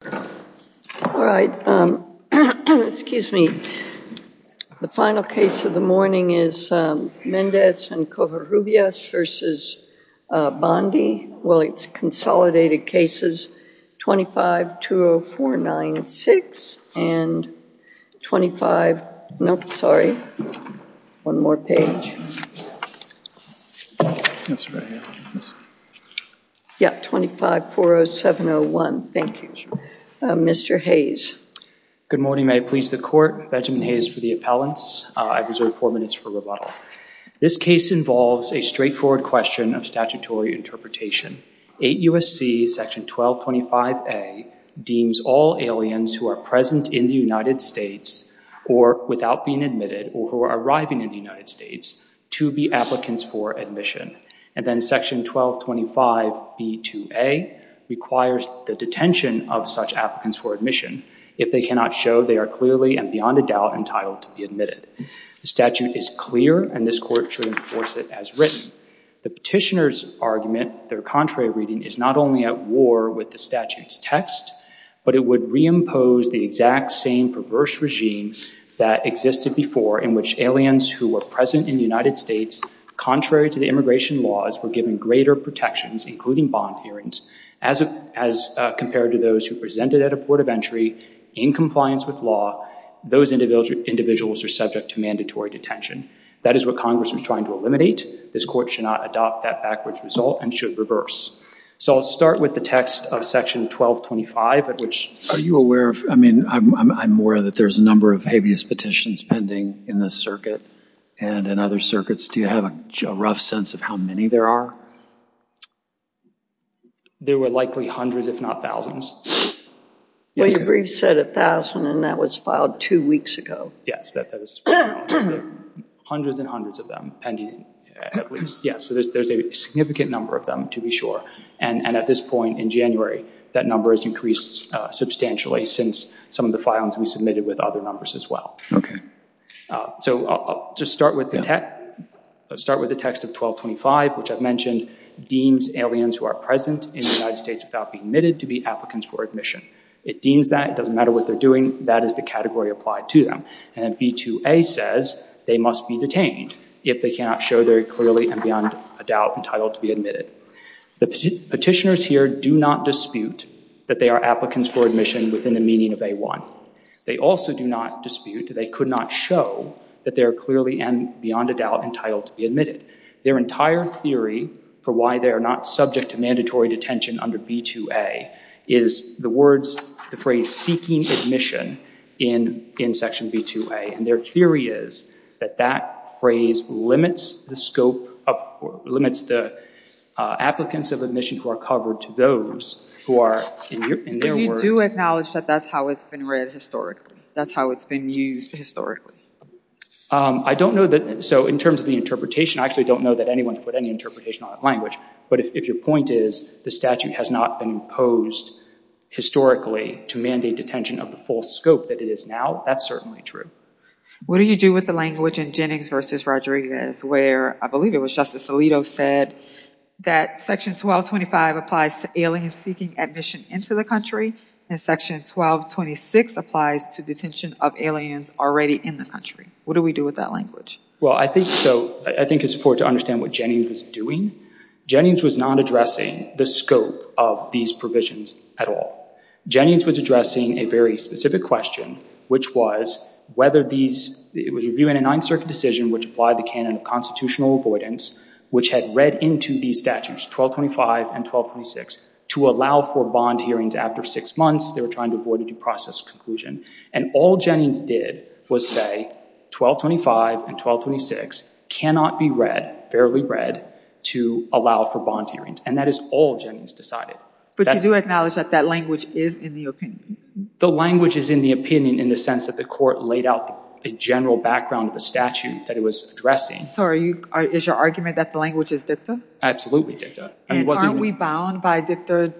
The final case of the morning is Mendez and Covarrubias v. Bondi, well it's consolidated Mr. Hayes. Good morning may I please the court Benjamin Hayes for the appellants I've reserved four minutes for rebuttal. This case involves a straightforward question of statutory interpretation. 8 U.S.C. section 1225 a deems all aliens who are present in the United States or without being admitted or who are arriving in the United States to be applicants for admission and then section 1225 b2a requires the detention of such applicants for admission if they cannot show they are clearly and beyond a doubt entitled to be admitted. The statute is clear and this court should enforce it as written. The petitioner's argument their contrary reading is not only at war with the statute's text but it would reimpose the exact same perverse regime that existed before in which aliens who were present in the United States contrary to the greater protections including bond hearings as compared to those who presented at a port of entry in compliance with law those individuals are subject to mandatory detention. That is what Congress was trying to eliminate this court should not adopt that backwards result and should reverse. So I'll start with the text of section 1225 at which are you aware of I mean I'm aware that there's a number of habeas petitions pending in this circuit and in other circuits do you have a rough sense of how many there are? There were likely hundreds if not thousands. Well your brief said a thousand and that was filed two weeks ago. Yes that is hundreds and hundreds of them pending. Yes there's a significant number of them to be sure and at this point in January that number has increased substantially since some of the filings we submitted with other numbers as well. Okay. So I'll just start with the tech start with the text of 1225 which I've mentioned deems aliens who are present in the United States without being admitted to be applicants for admission. It deems that it doesn't matter what they're doing that is the category applied to them and b2a says they must be detained if they cannot show their clearly and beyond a doubt entitled to be admitted. The petitioners here do not dispute that they are applicants for admission within the meaning of a1. They also do not dispute they could not show that they're clearly and beyond a doubt entitled to be admitted. Their entire theory for why they are not subject to mandatory detention under b2a is the words the phrase seeking admission in in section b2a and their theory is that that phrase limits the scope of limits the applicants of admission who are covered to those who are in their words. You do acknowledge that that's how it's been read historically? That's how it's been used historically? I don't know that so in terms of the interpretation I actually don't know that anyone's put any interpretation on language but if your point is the statute has not been imposed historically to mandate detention of the full scope that it is now that's certainly true. What do you do with the language in Jennings versus Rodriguez where I believe it was Alito said that section 1225 applies to aliens seeking admission into the country and section 1226 applies to detention of aliens already in the country. What do we do with that language? Well I think so I think it's important to understand what Jennings was doing. Jennings was not addressing the scope of these provisions at all. Jennings was addressing a very specific question which was whether these it was reviewing a 9th Circuit decision which applied the constitutional avoidance which had read into these statutes 1225 and 1226 to allow for bond hearings after six months they were trying to avoid a due process conclusion and all Jennings did was say 1225 and 1226 cannot be read fairly read to allow for bond hearings and that is all Jennings decided. But you do acknowledge that that language is in the opinion? The language is in the opinion in the sense that the court laid out a general background of a statute that it was addressing. So is your argument that the language is dicta? Absolutely dicta. Aren't we bound by dicta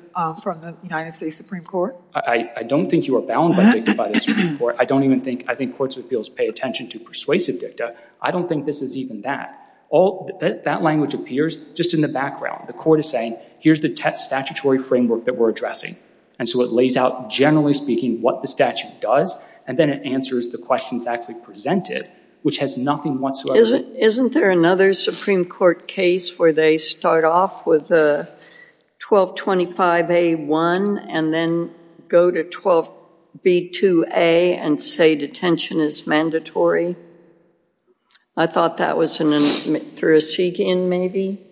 from the United States Supreme Court? I don't think you are bound by dicta by the Supreme Court. I don't even think I think courts of appeals pay attention to persuasive dicta. I don't think this is even that. All that language appears just in the background. The court is saying here's the statutory framework that we're addressing and so it lays out generally speaking what the statute does and then it answers the questions actually presented which has nothing whatsoever. Isn't there another Supreme Court case where they start off with a 1225A1 and then go to 12B2A and say detention is mandatory? I thought that was in Thurgisigian maybe?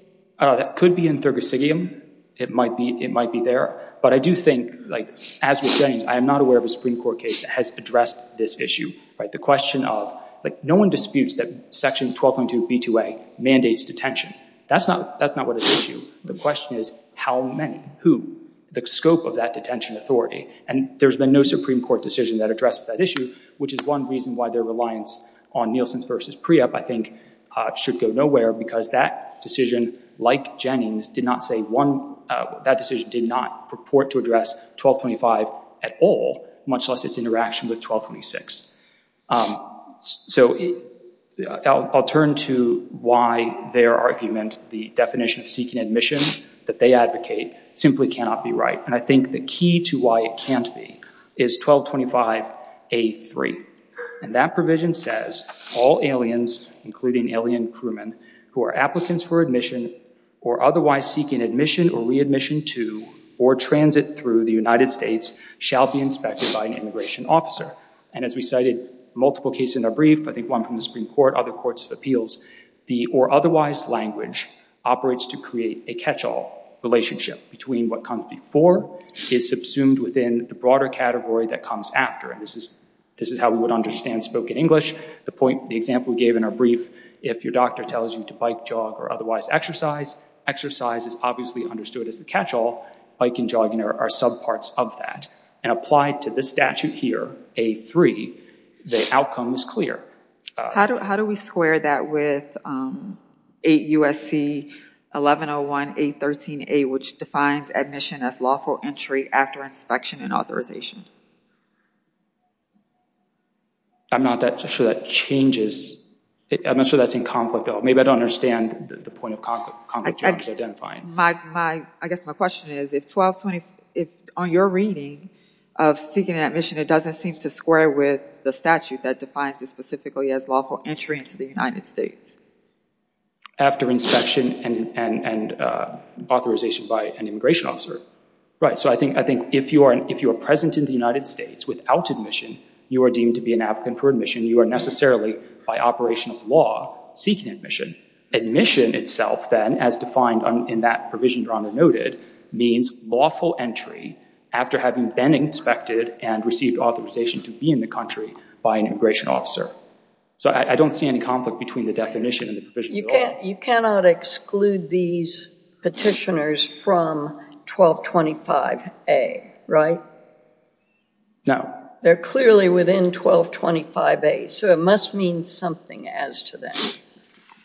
That could be in Thurgisigian. It might be it might be there but I do think like as with Jennings I am not aware of a Supreme Court case that has addressed this issue right the question of like no one disputes that section 1222B2A mandates detention. That's not that's not what is issue. The question is how many? Who? The scope of that detention authority and there's been no Supreme Court decision that addresses that issue which is one reason why their reliance on Nielsen's versus Priap I think should go nowhere because that decision like Jennings did not say one that decision did not purport to address 1225 at all much less its interaction with 1226. So I'll turn to why their argument the definition of seeking admission that they advocate simply cannot be right and I think the key to why it can't be is 1225A3 and that provision says all aliens including alien crewmen who are applicants for admission or otherwise seeking admission or readmission to or transit through the United States shall be inspected by an immigration officer and as we cited multiple cases in our brief I think one from the Supreme Court other courts of appeals the or otherwise language operates to create a catch-all relationship between what comes before is subsumed within the broader category that comes after and this is this is how we would understand spoken English the point the example we gave in our brief if your doctor tells you to bike jog or otherwise exercise exercise is obviously understood as the catch-all bike and jogging are sub parts of that and applied to this statute here A3 the outcome is clear. How do we square that with 8 USC 1101 813 a which defines admission as lawful entry after inspection and authorization? I'm not that sure that changes I'm not sure that's in conflict though maybe I don't understand the point of conflict you want to identify. I guess my question is if 1225 on your reading of seeking an admission it doesn't seem to square with the statute that defines it specifically as lawful entry into the United States. After inspection and and authorization by an immigration officer right so I think I think if you are if you are present in the United States without admission you are deemed to be an applicant for admission you are necessarily by operation of law seeking admission admission itself then as defined in that provision drawn or noted means lawful entry after having been inspected and received authorization to be in the country by an immigration officer. So I don't see any conflict between the definition and the provision. You cannot exclude these petitioners from 1225 a right? No. They're clearly within 1225 a so it must mean something as to them.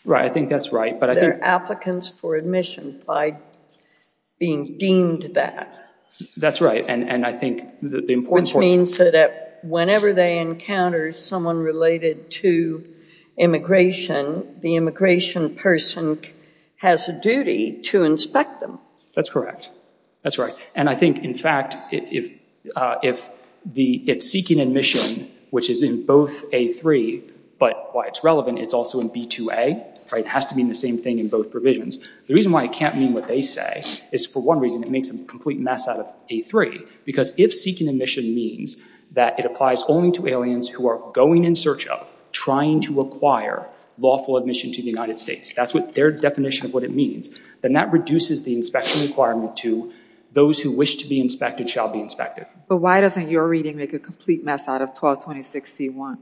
Right I think that's right but I think applicants for admission by being deemed that. That's right and and I think the important point. Which means that whenever they encounter someone related to immigration the immigration person has a duty to inspect them. That's correct that's right and I think in fact if if the if seeking admission which is in both a three but why it's relevant it's also in b2a it has to mean the same thing in both provisions. The reason why it can't mean what they say is for one reason it makes a complete mess out of a three because if seeking admission means that it applies only to aliens who are going in search of trying to acquire lawful admission to the United States that's their definition of what it means then that reduces the inspection requirement to those who wish to be inspected shall be inspected. But why doesn't your reading make a complete mess out of 1226 c1?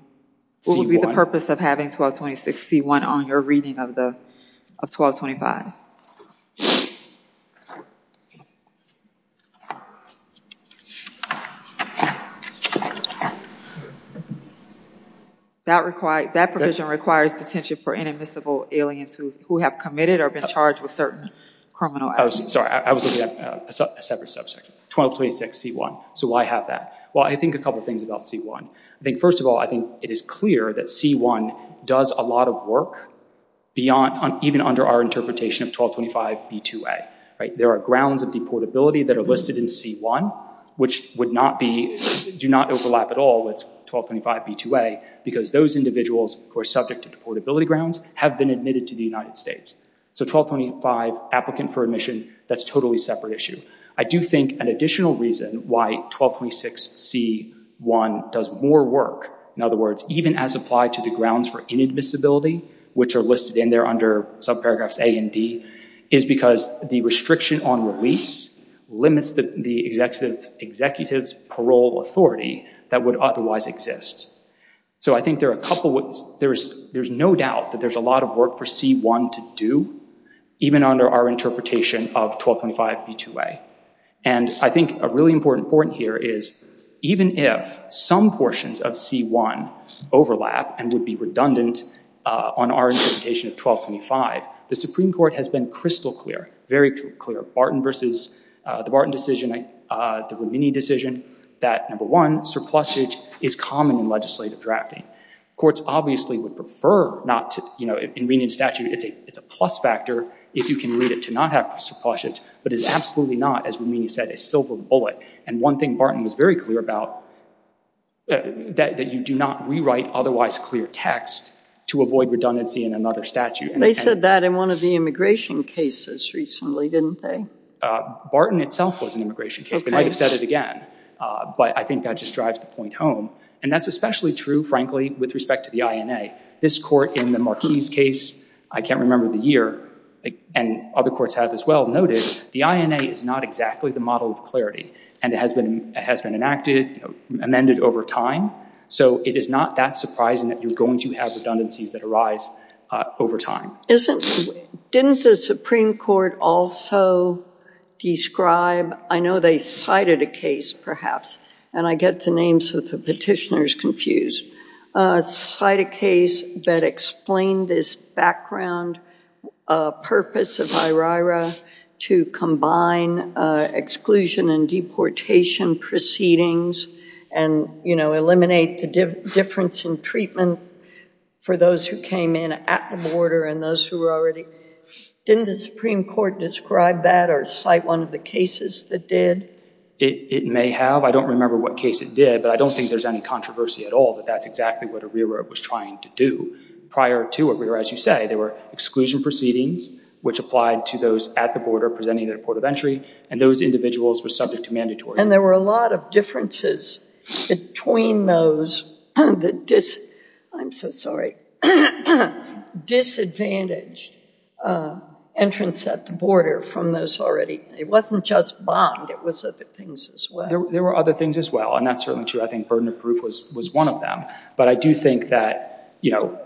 What would be the purpose of having 1226 c1 on your reading of the of 1225? That required that provision requires detention for inadmissible aliens who who have committed or been charged with certain criminal acts. Sorry I was looking at a separate subject 1226 c1 so why have that? Well I think a couple things about c1 I think first of all I think it is clear that c1 does a lot of work beyond on even under our interpretation of 1225 b2a right there are grounds of deportability that are listed in c1 which would not be do not overlap at all with 1225 b2a because those individuals who are subject to deportability grounds have been admitted to the United States. So 1225 applicant for admission that's totally separate issue. I do think an additional reason why 1226 c1 does more work in other words even as applied to the grounds for inadmissibility which are listed in there under subparagraphs a and d is because the restriction on release limits that the executive executives parole authority that would otherwise exist. So I think there are a couple what there's there's no doubt that there's a lot of work for c1 to do even under our interpretation of 1225 b2a and I think a really important point here is even if some portions of c1 overlap and would be redundant on our interpretation of 1225 the Supreme Court has been crystal clear very clear Barton versus the Barton decision the Romini decision that number one surplusage is common in legislative drafting. Courts obviously would prefer not to you know in reading statute it's a it's a plus factor if you can read it to not have surplusage but it's absolutely not as Romini said a silver bullet and one thing Barton was very clear about that you do not rewrite otherwise clear text to avoid redundancy in another statute. They said that in one of the immigration cases recently didn't they? Barton itself was an immigration case they might have said it again but I think that just drives the point home and that's especially true frankly with respect to the INA. This court in the Marquis case I can't remember the year and other courts have as well noted the INA is not exactly the model of clarity and it has been has been enacted amended over time so it is not that surprising that you're going to have redundancies that arise over time. Isn't didn't the Supreme Court also describe I know they cited a case perhaps and I get the names of the petitioners confused cite a case that explained this background purpose of IRIRA to combine exclusion and deportation proceedings and you know eliminate the difference in treatment for those who came in at the border and those who already didn't the Supreme Court describe that or cite one of the cases that did? It may have I don't remember what case it did but I don't think there's any controversy at all that that's exactly what IRIRA was trying to do prior to IRIRA as you say there were exclusion proceedings which applied to those at the border presenting their port of entry and those individuals were subject to mandatory. And there were a lot of differences between those and the dis I'm so sorry disadvantaged entrance at the border from those already it wasn't just bond it was other things as well. There were other things as well and that's certainly true I think burden of proof was was one of them but I do think that you know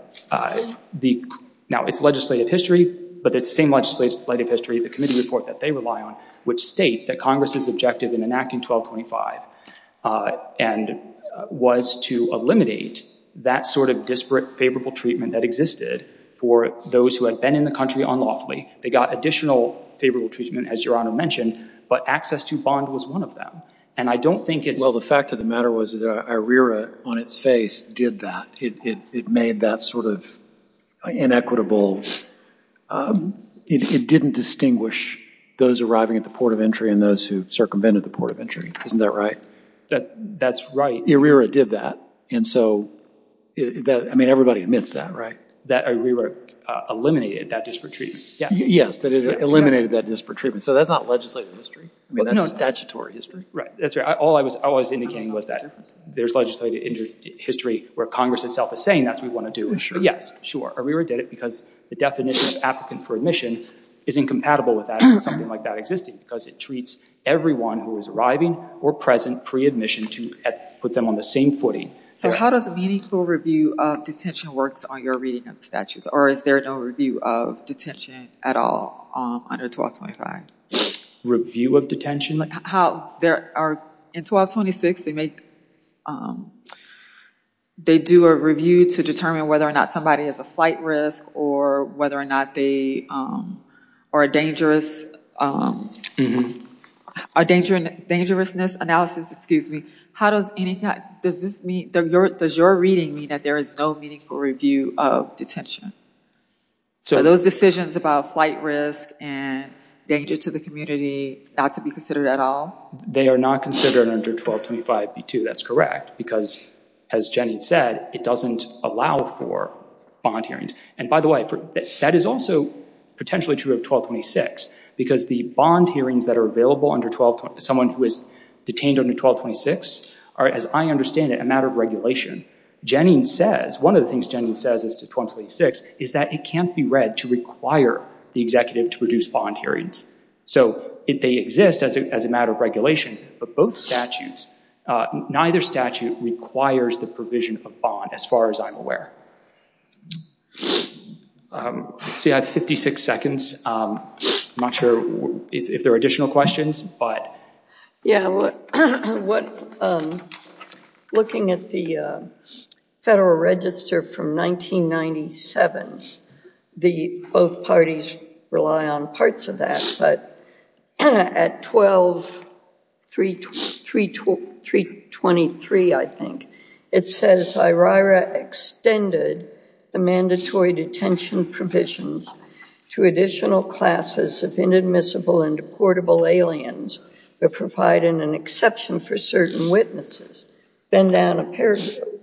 the now it's legislative history but it's same legislative history the committee report that they rely on which states that Congress's objective in enacting 1225 and was to eliminate that sort of disparate favorable treatment that existed for those who have been in the country unlawfully they got additional favorable treatment as your honor mentioned but access to bond was one of them and I don't think it's well the fact of the matter was that IRIRA on its face did that it made that sort of inequitable it didn't distinguish those arriving at the port of entry and those who circumvented the port of entry isn't that right that that's right IRIRA did that and so that I mean everybody admits that right that IRIRA eliminated that disparate treatment yes that it eliminated that disparate treatment so that's not legislative history I mean statutory history right that's right all I was always indicating was that there's legislative history where Congress itself is saying that's we want to do sure yes sure IRIRA did it because the definition of applicant for admission is incompatible with that something like that existing because it treats everyone who is arriving or present pre-admission to put them on the same footing so how does a meaningful review of detention works on your reading of statutes or is there no review of detention at all under 1225? Review of detention? How there are in 1226 they make they do a review to determine whether or not somebody has a flight risk or whether or not they are a dangerous are danger and dangerousness analysis excuse me how does anything does this mean that you're reading me that there is no meaningful review of detention so those decisions about flight risk and danger to the community not to be considered at all they are not considered under 1225 B2 that's correct because as Jenny said it doesn't allow for bond hearings and by the way that is also potentially true of 1226 because the bond hearings that are available under 12 someone who is a matter of regulation Jennings says one of the things Jennings says is to 1226 is that it can't be read to require the executive to produce bond hearings so if they exist as a matter of regulation but both statutes neither statute requires the provision of bond as far as I'm aware see I have 56 seconds I'm not sure if there are additional questions but yeah what what looking at the Federal Register from 1997 the both parties rely on parts of that but at 12 3 3 2 3 23 I think it says I Ryra extended the mandatory detention provisions to additional classes of inadmissible and deportable aliens but providing an exception for certain witnesses been down a pair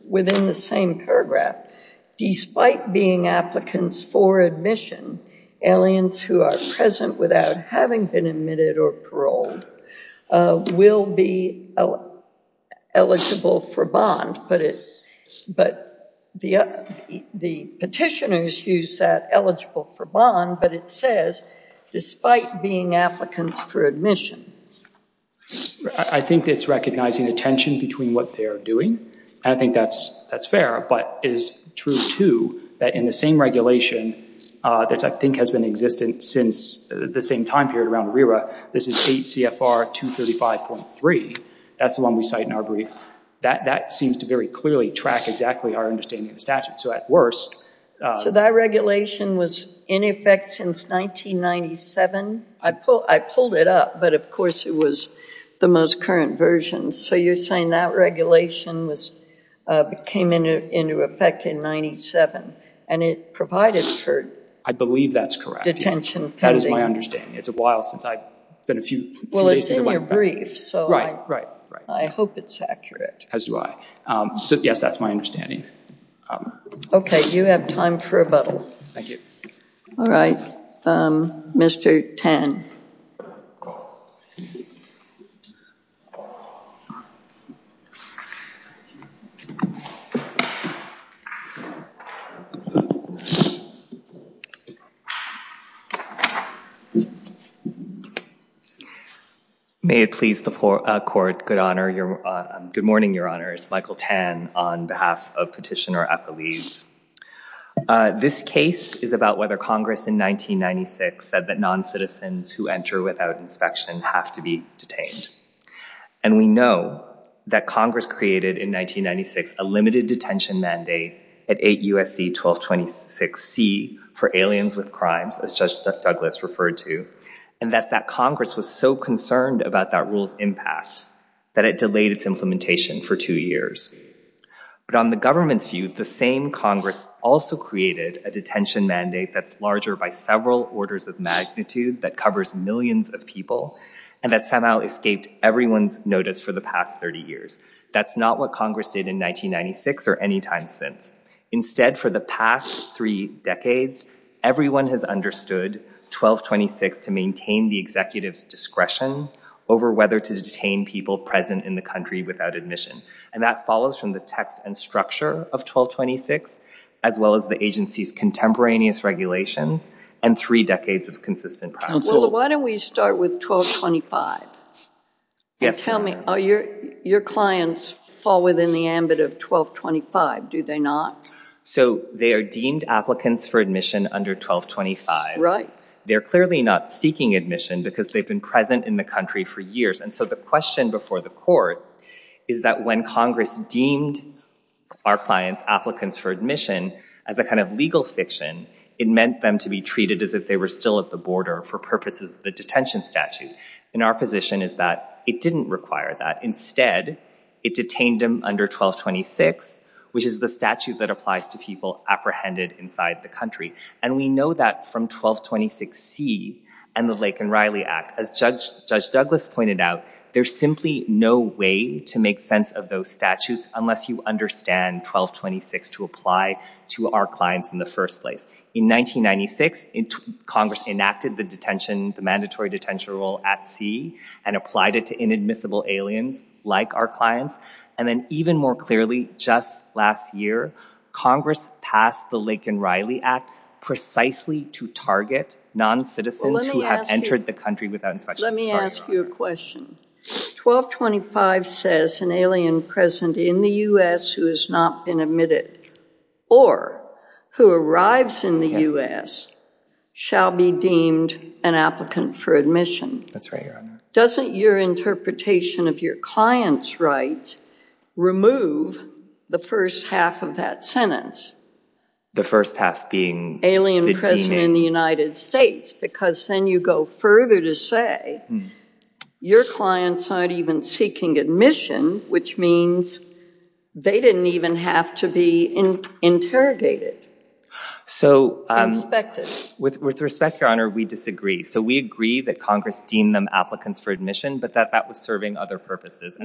within the same paragraph despite being applicants for admission aliens who are present without having been admitted or paroled will be eligible for bond but it but the the petitioners use that eligible for bond but it says despite being applicants for admission I think it's recognizing the tension between what they are doing I think that's that's fair but is true too that in the same regulation that's I think has been existent since the same time period around Rira this is 8 CFR 235.3 that's the one we cite in our brief that that seems to very clearly track exactly our understanding of statute so at worst so that regulation was in effect since 1997 I pull I pulled it up but of course it was the most current version so you're saying that regulation was became in effect in 97 and it provided for I believe that's correct attention that is my understanding it's a while since I it's been a few well it's in your brief so right right right I hope it's accurate as do I so yes that's my okay you have time for a bottle thank you all right mr. tan may it please the poor court good honor your good morning your honors Michael tan on behalf of petitioner at the leaves this case is about whether Congress in 1996 said that non-citizens who enter without inspection have to be detained and we know that Congress created in 1996 a limited detention mandate at 8 USC 1226 C for aliens with crimes as Judge Douglas referred to and that that Congress was so concerned about that rules impact that it delayed its for two years but on the government's view the same Congress also created a detention mandate that's larger by several orders of magnitude that covers millions of people and that somehow escaped everyone's notice for the past 30 years that's not what Congress did in 1996 or any time since instead for the past three decades everyone has understood 1226 to maintain the executives discretion over whether to detain people present in the country without admission and that follows from the text and structure of 1226 as well as the agency's contemporaneous regulations and three decades of consistent problems why don't we start with 1225 yes tell me are your your clients fall within the ambit of 1225 do they not so they are deemed applicants for admission under 1225 right they're clearly not seeking admission because they've been present in the country for years and so the question before the court is that when Congress deemed our clients applicants for admission as a kind of legal fiction it meant them to be treated as if they were still at the border for purposes of the detention statute in our position is that it didn't require that instead it detained him under 1226 which is the statute that applies to people apprehended inside the country and we know that from 1226 C and the Lake and Riley Act as judge judge Douglas pointed out there's simply no way to make sense of those statutes unless you understand 1226 to apply to our clients in the first place in 1996 in Congress enacted the detention the mandatory detention rule at sea and applied it to inadmissible aliens like our clients and then even more clearly just last year Congress passed the Lake and Riley Act precisely to target non-citizens who have entered the country without inspection let me ask you a question 1225 says an alien present in the u.s. who has not been admitted or who arrives in the u.s. shall be deemed an applicant for admission that's right doesn't your interpretation of your clients right remove the first half of that sentence the first half being alien president in the United States because then you go further to say your clients aren't even seeking admission which means they didn't even have to be in interrogated so with respect your honor we disagree so we agree that Congress deemed them applicants for admission but that that was serving other purposes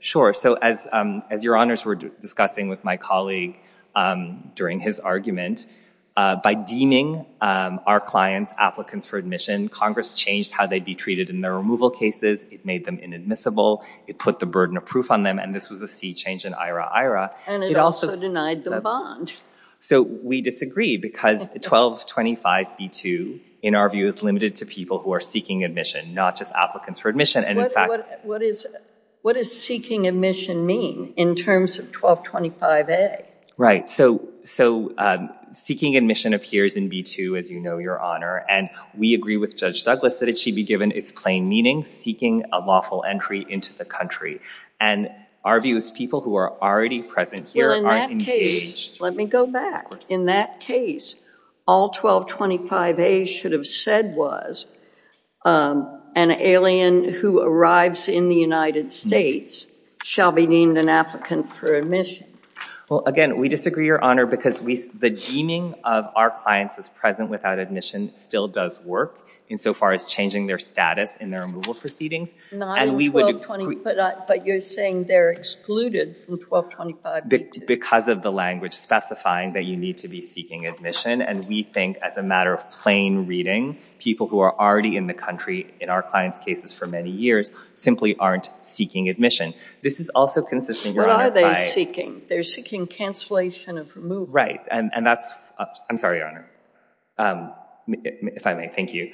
sure so as as your honors were discussing with my colleague during his argument by deeming our clients applicants for admission Congress changed how they'd be treated in their removal cases it made them inadmissible it put the burden of proof on them and this was a sea change in IRA IRA and it also denied the bond so we disagree because 1225 b2 in our view is limited to people who are seeking admission not just applicants for admission and in fact what is what is seeking admission mean in terms of 1225 a right so so seeking admission appears in b2 as you know your honor and we agree with Judge Douglas that it should be given its plain meaning seeking a lawful entry into the country and our view is people who are already present here in that case let me go back in that case all 1225 a should have said was an alien who arrives in the United States shall be deemed an applicant for admission well again we disagree your honor because we the deeming of our clients is present without admission still does work insofar as changing their status in their removal proceedings and we would but you're saying they're excluded from 1225 because of the language specifying that you need to be seeking admission and we think as a matter of plain reading people who are already in the country in our clients cases for many years simply aren't seeking admission this is also consistent what are they seeking they're seeking cancellation of remove right and and that's I'm sorry your honor if I may thank you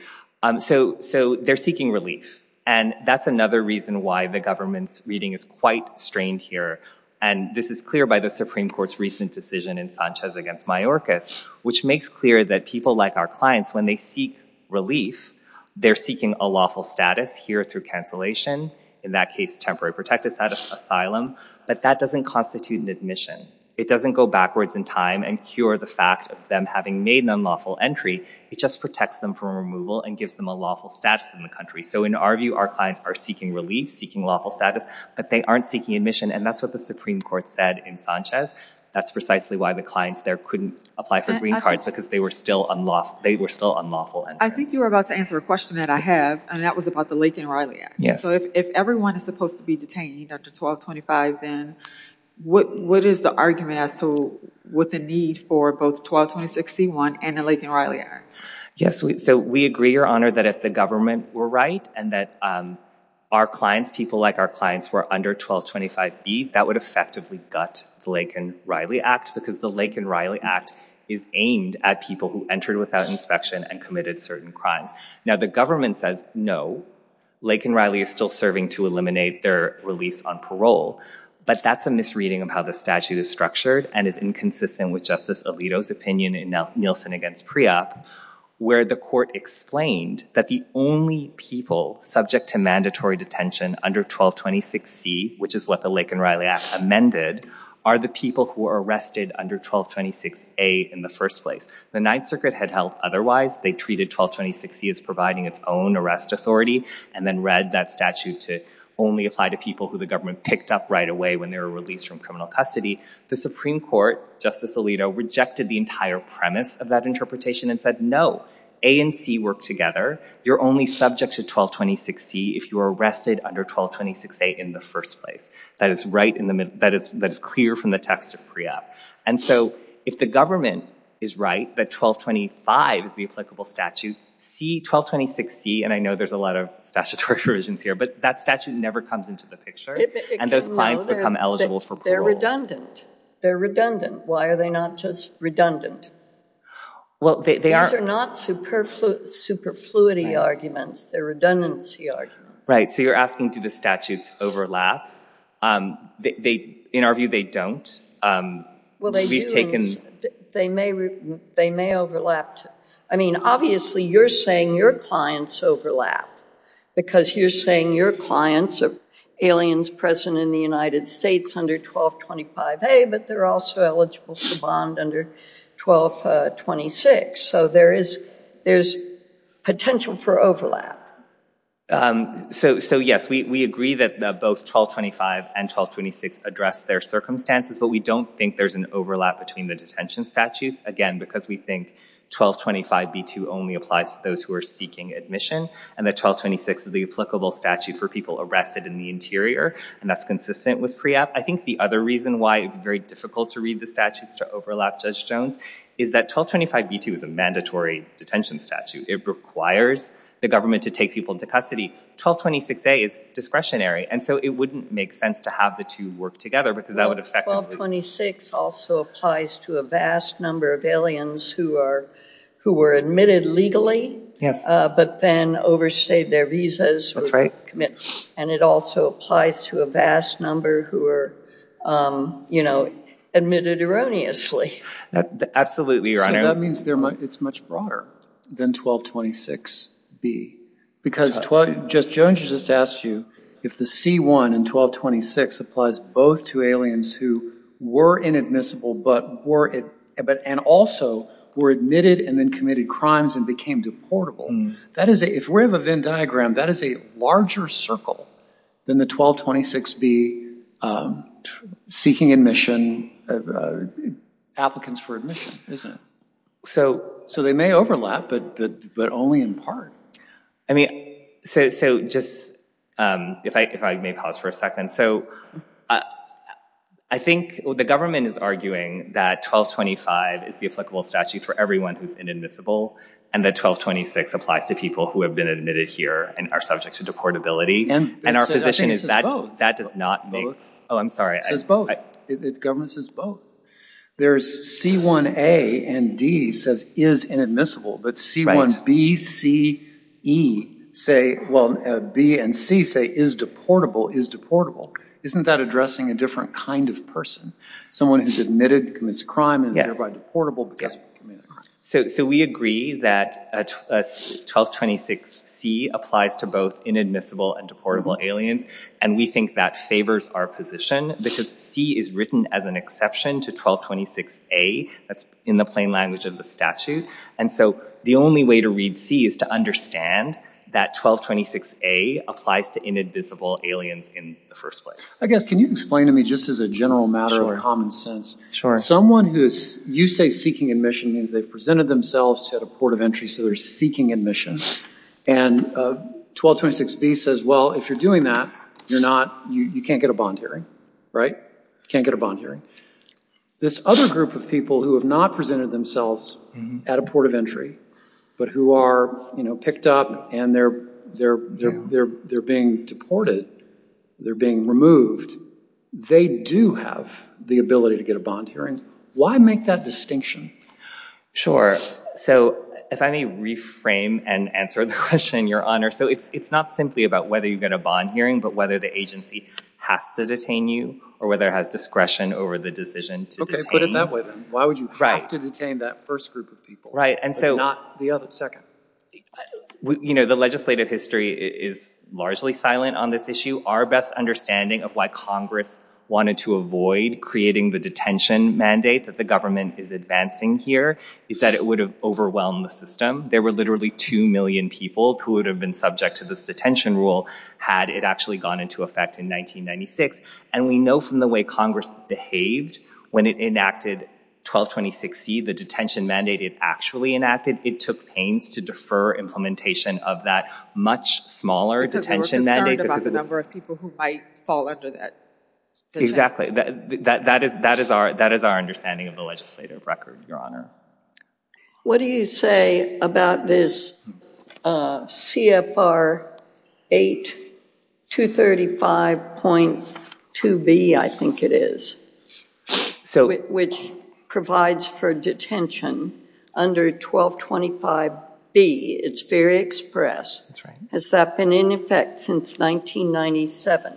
so so they're seeking relief and that's another reason why the government's reading is quite strained here and this is clear by the Supreme Court's recent decision in Sanchez against Mayorkas which makes clear that people like our clients when they seek relief they're seeking a lawful status here through cancellation in that case temporary protective status asylum but that doesn't constitute an admission it doesn't go backwards in time and cure the fact of them having made an unlawful entry it just protects them from removal and gives them a lawful status in the country so in our view our clients are seeking relief seeking lawful status but they aren't seeking admission and that's what the Supreme Court said in Sanchez that's precisely why the clients there couldn't apply for green cards because they were still unlawful they were still unlawful and I think you're about to answer a question that I have and that was about the Lake and Riley yeah so if everyone is supposed to be detained after 1225 then what what is the argument as to what the need for both 1220 61 and the Lake and Riley are yes so we agree your honor that if the government were right and that our clients people like our clients were under 1225 be that would effectively gut the Lake and Riley Act because the Lake and Riley Act is aimed at people who entered without inspection and committed certain crimes now the government says no Lake and Riley is still serving to eliminate their release on parole but that's a misreading of how the statute is structured and is inconsistent with justice Alito's opinion in Nelson against pre-op where the court explained that the only people subject to mandatory detention under 1226 C which is what the Lake and Riley Act amended are the people who are arrested under 1226 a in the first place the Ninth Circuit had helped otherwise they treated 1226 C as providing its own arrest authority and then read that statute to only apply to people who the government picked up right away when they were released from criminal custody the Supreme Court justice Alito rejected the entire premise of that interpretation and said no A and C work together you're only subject to 1226 C if you are arrested under 1226 a in the first place that is right in the middle that is that is clear from the text of pre-op and so if the government is right that 1225 is the applicable statute C 1226 C and I know there's a lot of statutory provisions here but that statute never comes into the picture and those clients become eligible for parole. They're redundant. They're redundant. Why are they not just redundant? Well they are not superfluity arguments they're redundancy arguments. Right so you're asking do the statutes overlap? They in our view they don't. Well we've taken they may they may overlap I mean obviously you're saying your clients overlap because you're saying your clients are aliens present in the United States under 1225 a but they're also eligible to bond under 1226 so there is potential for overlap. So yes we agree that both 1225 and 1226 address their circumstances but we don't think there's an overlap between the detention statutes again because we think 1225 b2 only applies to those who are seeking admission and the 1226 is the applicable statute for people arrested in the interior and that's consistent with pre-op. I think the other reason why it's very difficult to read the statutes to overlap Judge Jones is that 1225 b2 is a detention statute. It requires the government to take people into custody. 1226 a is discretionary and so it wouldn't make sense to have the two work together because that would affect. 1226 also applies to a vast number of aliens who are who were admitted legally. Yes. But then overstayed their visas. That's right. And it also applies to a vast number who were you know admitted erroneously. Absolutely your honor. That means it's much broader than 1226 b because Judge Jones just asked you if the c1 and 1226 applies both to aliens who were inadmissible but were it but and also were admitted and then committed crimes and became deportable. That is a if we have a Venn diagram that is a larger circle than the 1226 b seeking admission applicants for admission isn't it? So so they may overlap but but but only in part. I mean so so just if I may pause for a second so I think the government is arguing that 1225 is the applicable statute for everyone who's inadmissible and that 1226 applies to people who have been admitted here and are subject to deportability. And our position is that that does not make sense. Oh I'm sorry. It says both. The government says both. There's c1a and d says is inadmissible but c1b, c, e say well b and c say is deportable is deportable. Isn't that addressing a different kind of person? Someone who's admitted commits crime and is thereby deportable because they committed a crime. So we agree that 1226 c applies to both inadmissible and deportable aliens and we think that favors our position because c is written as an exception to 1226 a that's in the plain language of the statute and so the only way to read c is to understand that 1226 a applies to inadmissible aliens in the first place. I guess can you explain to me just as a general matter of common sense someone who's you say seeking admission means they've presented themselves to a port of entry so they're seeking admission and 1226 b says well if you're doing that you're not you can't get a bond hearing right can't get a bond hearing. This other group of people who have not presented themselves at a port of entry but who are you know picked up and they're they're they're they're being deported they're being removed they do have the ability to get a bond hearing. Why make that distinction? Sure so if I may reframe and answer the question your honor so it's it's not simply about whether you get a bond hearing but whether the agency has to detain you or whether it has discretion over the decision to detain. Okay put it that way then why would you have to detain that first group of people right and so not the other second. You know the legislative history is largely silent on this issue our best understanding of why Congress wanted to avoid creating the detention mandate that the government is advancing here is that it would have overwhelmed the system there were literally two million people who would have been subject to this detention rule had it actually gone into effect in 1996 and we know from the way Congress behaved when it enacted 1226 C the detention mandate it actually enacted it took pains to defer implementation of that much smaller detention mandate. Because they were concerned about the number of people who might fall under that. Exactly that that is that is our that is our understanding of the legislative record your honor. What do you say about this CFR 8 235.2 B I think it is so it which provides for detention under 1225 B it's very express has that been in effect since 1997.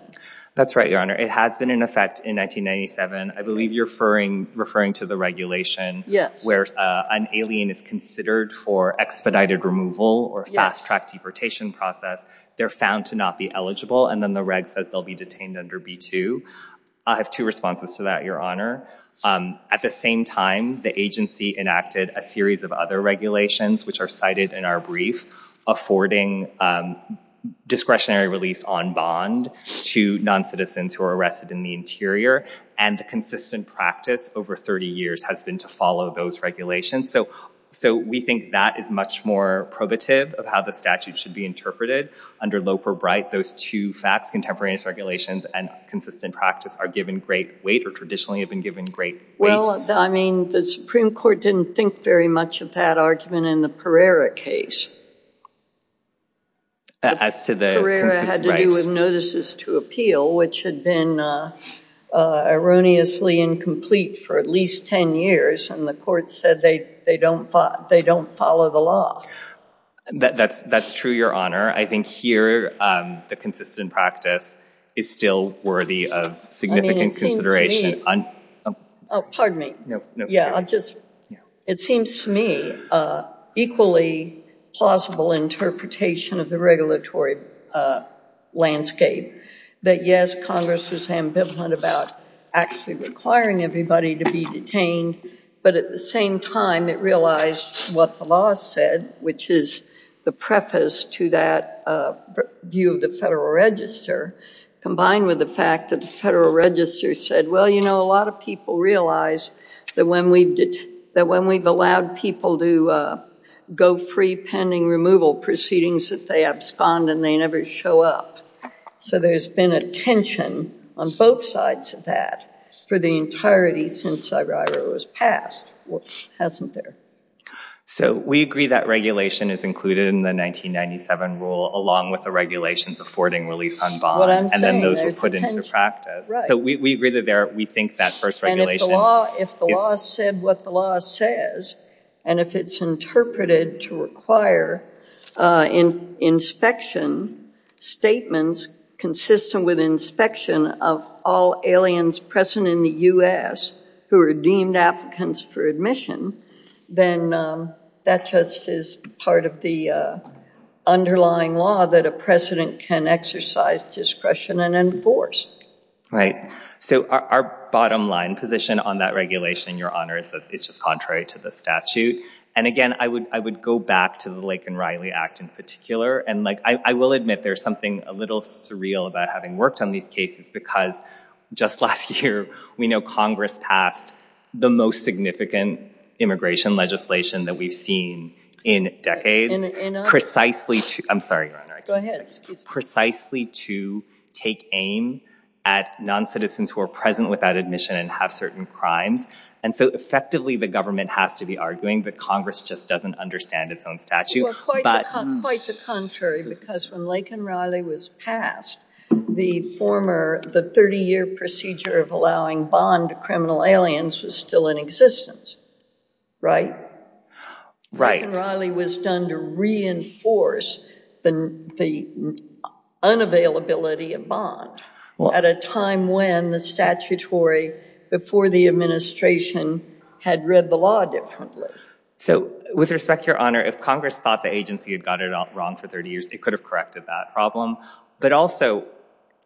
That's right your honor it has been in effect in 1997 I believe you're referring referring to the regulation yes where an alien is considered for expedited removal or fast-track deportation process they're found to not be eligible and then the reg says they'll be detained under B2 I have two responses to that your honor at the same time the agency enacted a series of other regulations which are cited in our brief affording discretionary release on bond to non-citizens who are arrested in the interior and consistent practice over 30 years has been to follow those regulations so so we think that is much more probative of how the statute should be interpreted under Loper Bright those two facts contemporaneous regulations and consistent practice are given great weight or traditionally have been given great well I mean the Supreme Court didn't think very much of that argument in the Pereira case as to the notices to appeal which had been erroneously incomplete for at least 10 years and the court said they they don't thought they don't follow the law that's that's true your honor I think here the consistent practice is still worthy of significant consideration on pardon me yeah I just it seems to me equally plausible interpretation of the regulatory landscape that yes Congress was ambivalent about actually requiring everybody to be detained but at the same time it realized what the law said which is the preface to that view of the Federal Register combined with the fact that the Federal Register said well you know a lot of people realize that when we did that when we've allowed people to go free pending removal proceedings that they abscond and they never show up so there's been a tension on both sides of that for the entirety since I driver was passed well hasn't there so we agree that regulation is included in the 1997 rule along with the regulations affording release on bond and then those were put into practice so we agree that there we think that first regulation if the law said what the law says and if it's interpreted to require in inspection statements consistent with inspection of all aliens present in the u.s. who are deemed applicants for admission then that just is part of the underlying law that a president can exercise discretion and enforce right so our bottom line position on that regulation your honor is that it's just contrary to the statute and again I would I would go back to the Lake and Riley Act in particular and like I will admit there's something a little surreal about having worked on these cases because just last year we know Congress passed the most significant immigration legislation that we've seen in decades precisely to I'm sorry precisely to take aim at non-citizens who are present without admission and have certain crimes and so effectively the government has to be arguing that Congress just doesn't understand its own statute but contrary because when Lake and Riley was passed the former the 30-year procedure of allowing bond to criminal aliens was still in existence right right Riley was done to reinforce the the unavailability of bond well at a time when the statutory before the administration had read the law differently so with respect your honor if Congress thought the agency had got it all wrong for 30 years they could have corrected that problem but also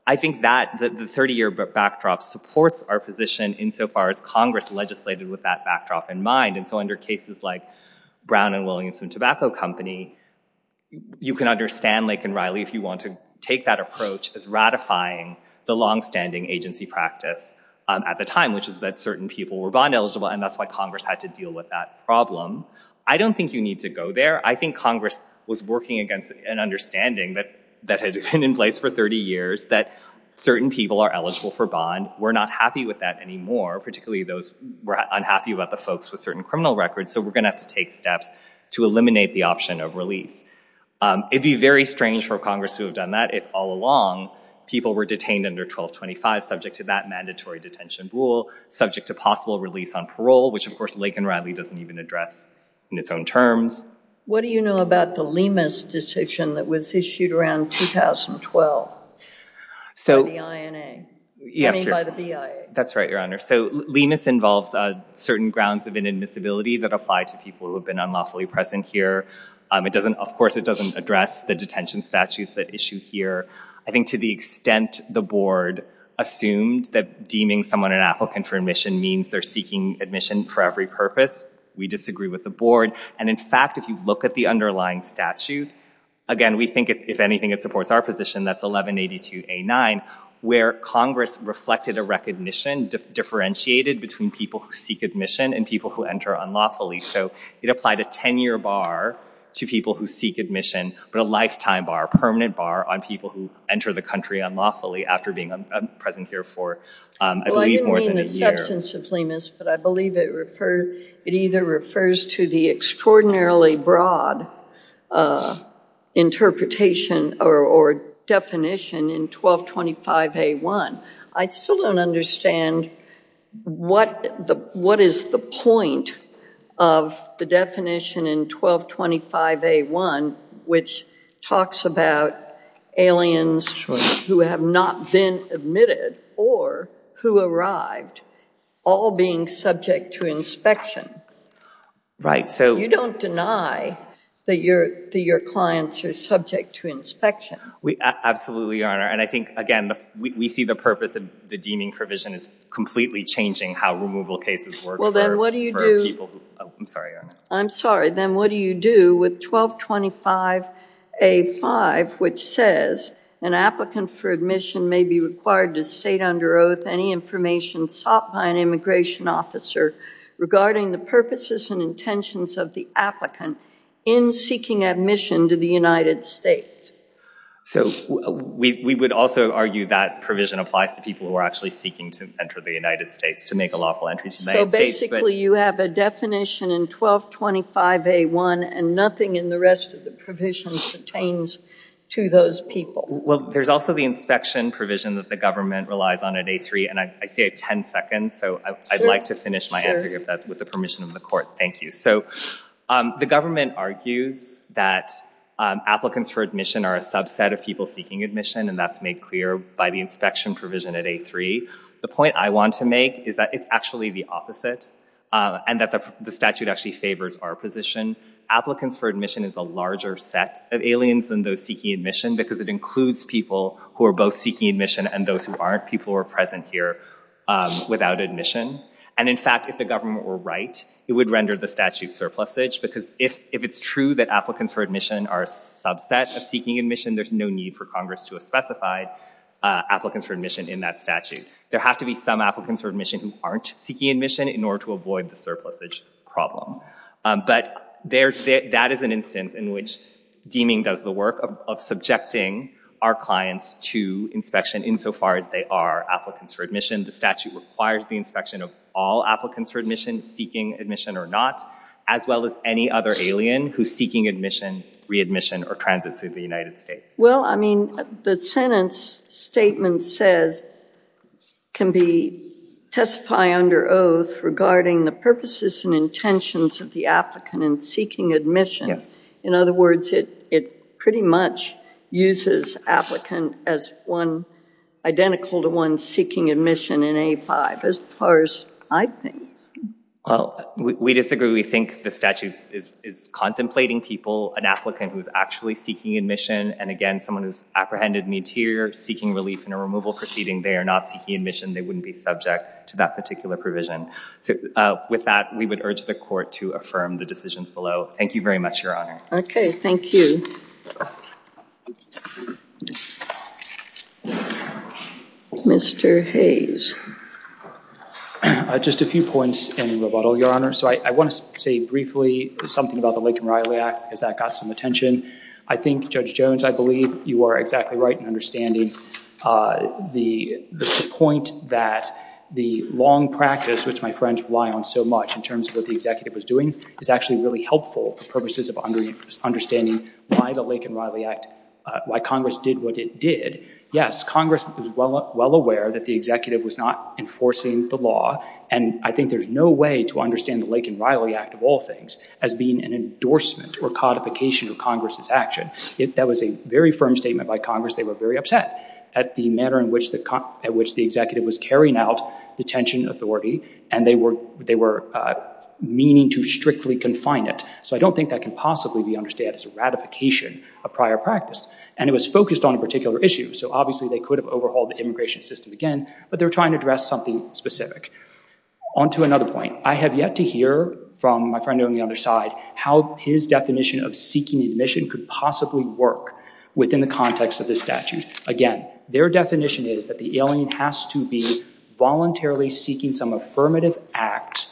I think that the 30-year backdrop supports our position in so far as Congress legislated with that backdrop in mind and so under cases like Brown and Williams and tobacco company you can understand Lake and Riley if you want to take that approach as ratifying the long-standing agency practice at the time which is that certain people were bond eligible and that's why Congress had to deal with that problem I don't think you need to go there I think been in place for 30 years that certain people are eligible for bond we're not happy with that anymore particularly those were unhappy about the folks with certain criminal records so we're gonna have to take steps to eliminate the option of release it'd be very strange for Congress who have done that if all along people were detained under 1225 subject to that mandatory detention rule subject to possible release on parole which of course Lake and Riley doesn't even address in its own terms what do you know about the Lemus decision that was issued around 2012 so yes that's right your honor so lemus involves certain grounds of inadmissibility that apply to people who have been unlawfully present here it doesn't of course it doesn't address the detention statutes that issue here I think to the extent the board assumed that deeming someone an applicant for admission means they're seeking admission for every purpose we disagree with the board and in fact if you look at the underlying statute again we think if anything it supports our position that's 1182 a 9 where Congress reflected a recognition differentiated between people who seek admission and people who enter unlawfully so it applied a 10-year bar to people who seek admission but a lifetime bar a permanent bar on people who enter the country unlawfully after being a present here for I believe more than a year. Well I didn't mean the substance of Lemus but I believe it refer it either refers to the extraordinarily broad interpretation or definition in 1225 a1 I still don't understand what the what is the point of the definition in 1225 a1 which talks about aliens who have not been admitted or who arrived all being subject to inspection right so you don't deny that your your clients are subject to inspection we absolutely honor and I think again we see the purpose of the deeming provision is completely changing how removal cases work well then what do you do I'm sorry I'm sorry then what do you do with 1225 a5 which says an applicant for admission may be required to state under oath any information sought by an immigration officer regarding the purposes and intentions of the applicant in seeking admission to the United States so we would also argue that provision applies to people who are actually seeking to enter the United States to make a lawful entry so basically you have a definition in 1225 a1 and nothing in the rest of the provisions pertains to those people well there's also the inspection provision that the government relies on at a3 and I say 10 seconds so I'd like to finish my answer here with the permission of the court thank you so the government argues that applicants for admission are a subset of people seeking admission and that's made clear by the inspection provision at a3 the point I want to make is that it's actually the opposite and that the statute actually favors our position applicants for admission is a larger set of aliens than those seeking admission because it includes people who are both seeking admission and those who aren't people who are present here without admission and in fact if the government were right it would render the statute surplus age because if if it's true that applicants for admission are a subset of seeking admission there's no need for Congress to a specified applicants for admission in that statute there have to be some applicants for admission who aren't seeking admission in order to avoid the surplus age problem but there's that is an instance in which deeming does the of subjecting our clients to inspection insofar as they are applicants for admission the statute requires the inspection of all applicants for admission seeking admission or not as well as any other alien who's seeking admission readmission or transit through the United States well I mean the sentence statement says can be testify under oath regarding the purposes and intentions of the applicant and seeking admissions in other words it it pretty much uses applicant as one identical to one seeking admission in a5 as far as I think well we disagree we think the statute is contemplating people an applicant who's actually seeking admission and again someone who's apprehended in interior seeking relief in a removal proceeding they are not seeking admission they wouldn't be subject to that particular provision so with that we would urge the court to affirm the decisions below thank you much your honor okay thank you mr. Hayes just a few points in the bottle your honor so I want to say briefly something about the lake and Riley act because that got some attention I think judge Jones I believe you are exactly right and understanding the point that the long practice which my friends rely on so much in terms of what the executive was doing is actually really helpful purposes of understanding why the lake and Riley act why Congress did what it did yes Congress is well well aware that the executive was not enforcing the law and I think there's no way to understand the lake and Riley act of all things as being an endorsement or codification of Congress's action if that was a very firm statement by Congress they were very upset at the manner in which the cut at which the executive was carrying out the tension authority and they were they were meaning to strictly confine it so I don't think that can possibly be understand as a ratification of prior practice and it was focused on a particular issue so obviously they could have overhauled the immigration system again but they're trying to address something specific on to another point I have yet to hear from my friend on the other side how his definition of seeking admission could possibly work within the context of this statute again their definition is that the alien has to be voluntarily seeking some affirmative act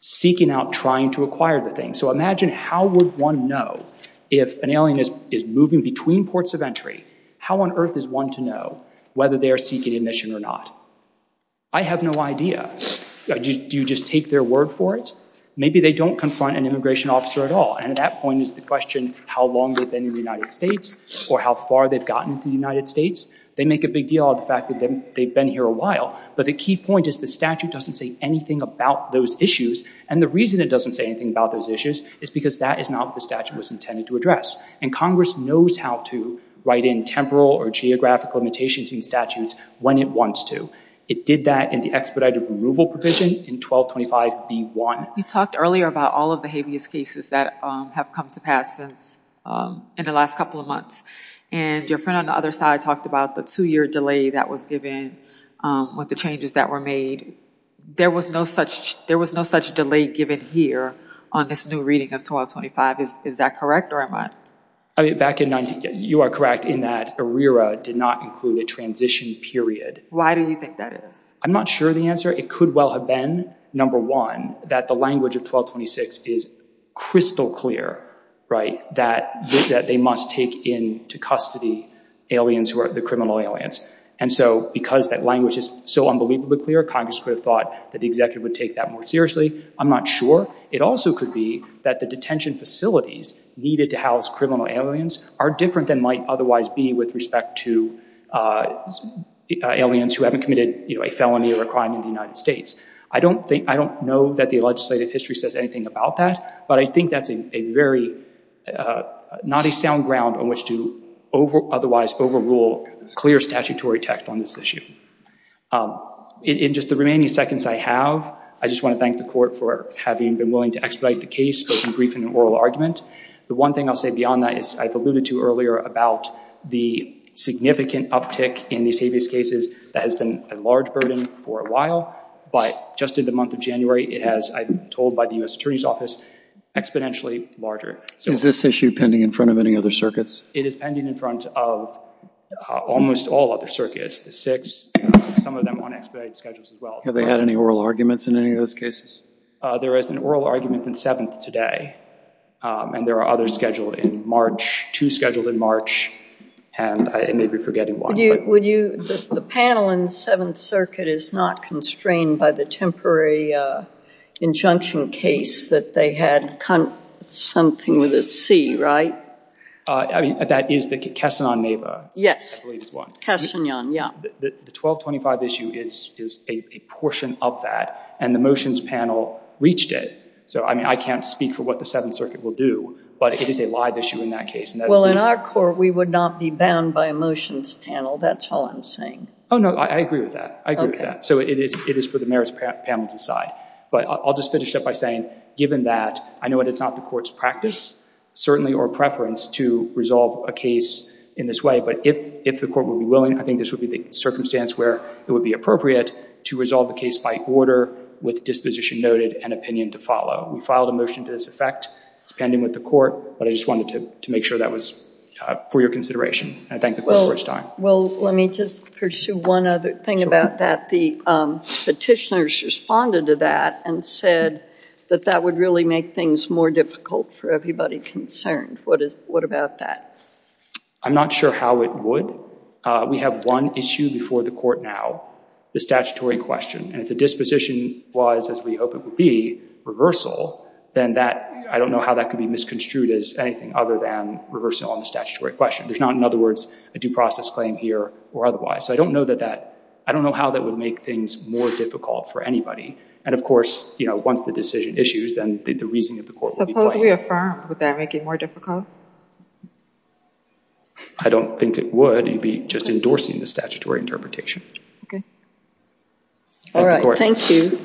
seeking out trying to acquire the thing so imagine how would one know if an alien is is moving between ports of entry how on earth is one to know whether they are seeking admission or not I have no idea do you just take their word for it maybe they don't confront an immigration officer at all and at that point is the question how long they've been in the United States or how far they've gotten to the United States they make a big deal of the fact that they've been here a while but the key point is the statute doesn't say anything about those issues and the reason it doesn't say anything about those issues is because that is not the statute was intended to address and Congress knows how to write in temporal or geographic limitations in statutes when it wants to it did that in the expedited removal provision in 1225 b1 you talked earlier about all of the habeas cases that have come to pass since in the last couple of months and your friend on the other side talked about the two-year delay that was given with the changes that were made there was no such there was no such delay given here on this new reading of 1225 is is that correct or am I I mean back in 19 you are correct in that arera did not include a transition period why do you think that is I'm not sure the answer it could well have been number one that the language of 1226 is crystal clear right that that they must take in to custody aliens who are the criminal aliens and so because that language is so unbelievably clear Congress could have thought that the executive would take that more seriously I'm not sure it also could be that the detention facilities needed to house criminal aliens are different than might otherwise be with respect to aliens who haven't committed you know a felony or a crime in the United States I don't think I don't know that the legislative history says anything about that but I think that's a very not a sound ground on which to over otherwise overrule clear statutory text on this issue in just the remaining seconds I have I just want to thank the court for having been willing to expedite the case but in brief in an oral argument the one thing I'll say beyond that is I've alluded to earlier about the significant uptick in these habeas cases that has been a large burden for a while but just in the month of January it has I've been told by the US Attorney's Office exponentially larger so is this issue pending in front of any other circuits it is pending in front of almost all other circuits the six have they had any oral arguments in any of those cases there is an oral argument than seventh today and there are other scheduled in March to scheduled in March and I may be forgetting what you would you the panel in Seventh Circuit is not constrained by the temporary injunction case that they had something with a C right I mean that is the Kessin on Neva yes question young yeah the 1225 issue is a portion of that and the motions panel reached it so I mean I can't speak for what the Seventh Circuit will do but it is a live issue in that case well in our court we would not be bound by a motions panel that's all I'm saying oh no I agree with that I agree with that so it is it is for the merits panel to decide but I'll just finish up by saying given that I know what it's not the courts practice certainly or preference to resolve a case in this way but if if the court will be willing I think this would be the circumstance where it would be appropriate to resolve the case by order with disposition noted and opinion to follow we filed a motion to this effect it's pending with the court but I just wanted to make sure that was for your consideration I think the first time well let me just pursue one other thing about that the petitioners responded to and said that that would really make things more difficult for everybody concerned what is what about that I'm not sure how it would we have one issue before the court now the statutory question and if the disposition was as we hope it would be reversal then that I don't know how that could be misconstrued as anything other than reversal on the statutory question there's not in other words a due process claim here or otherwise so I don't know that that I don't know how that would make things more difficult for anybody and of course you know once the decision issues then the reasoning of the court we affirm would that make it more difficult I don't think it would you'd be just endorsing the statutory interpretation all right thank you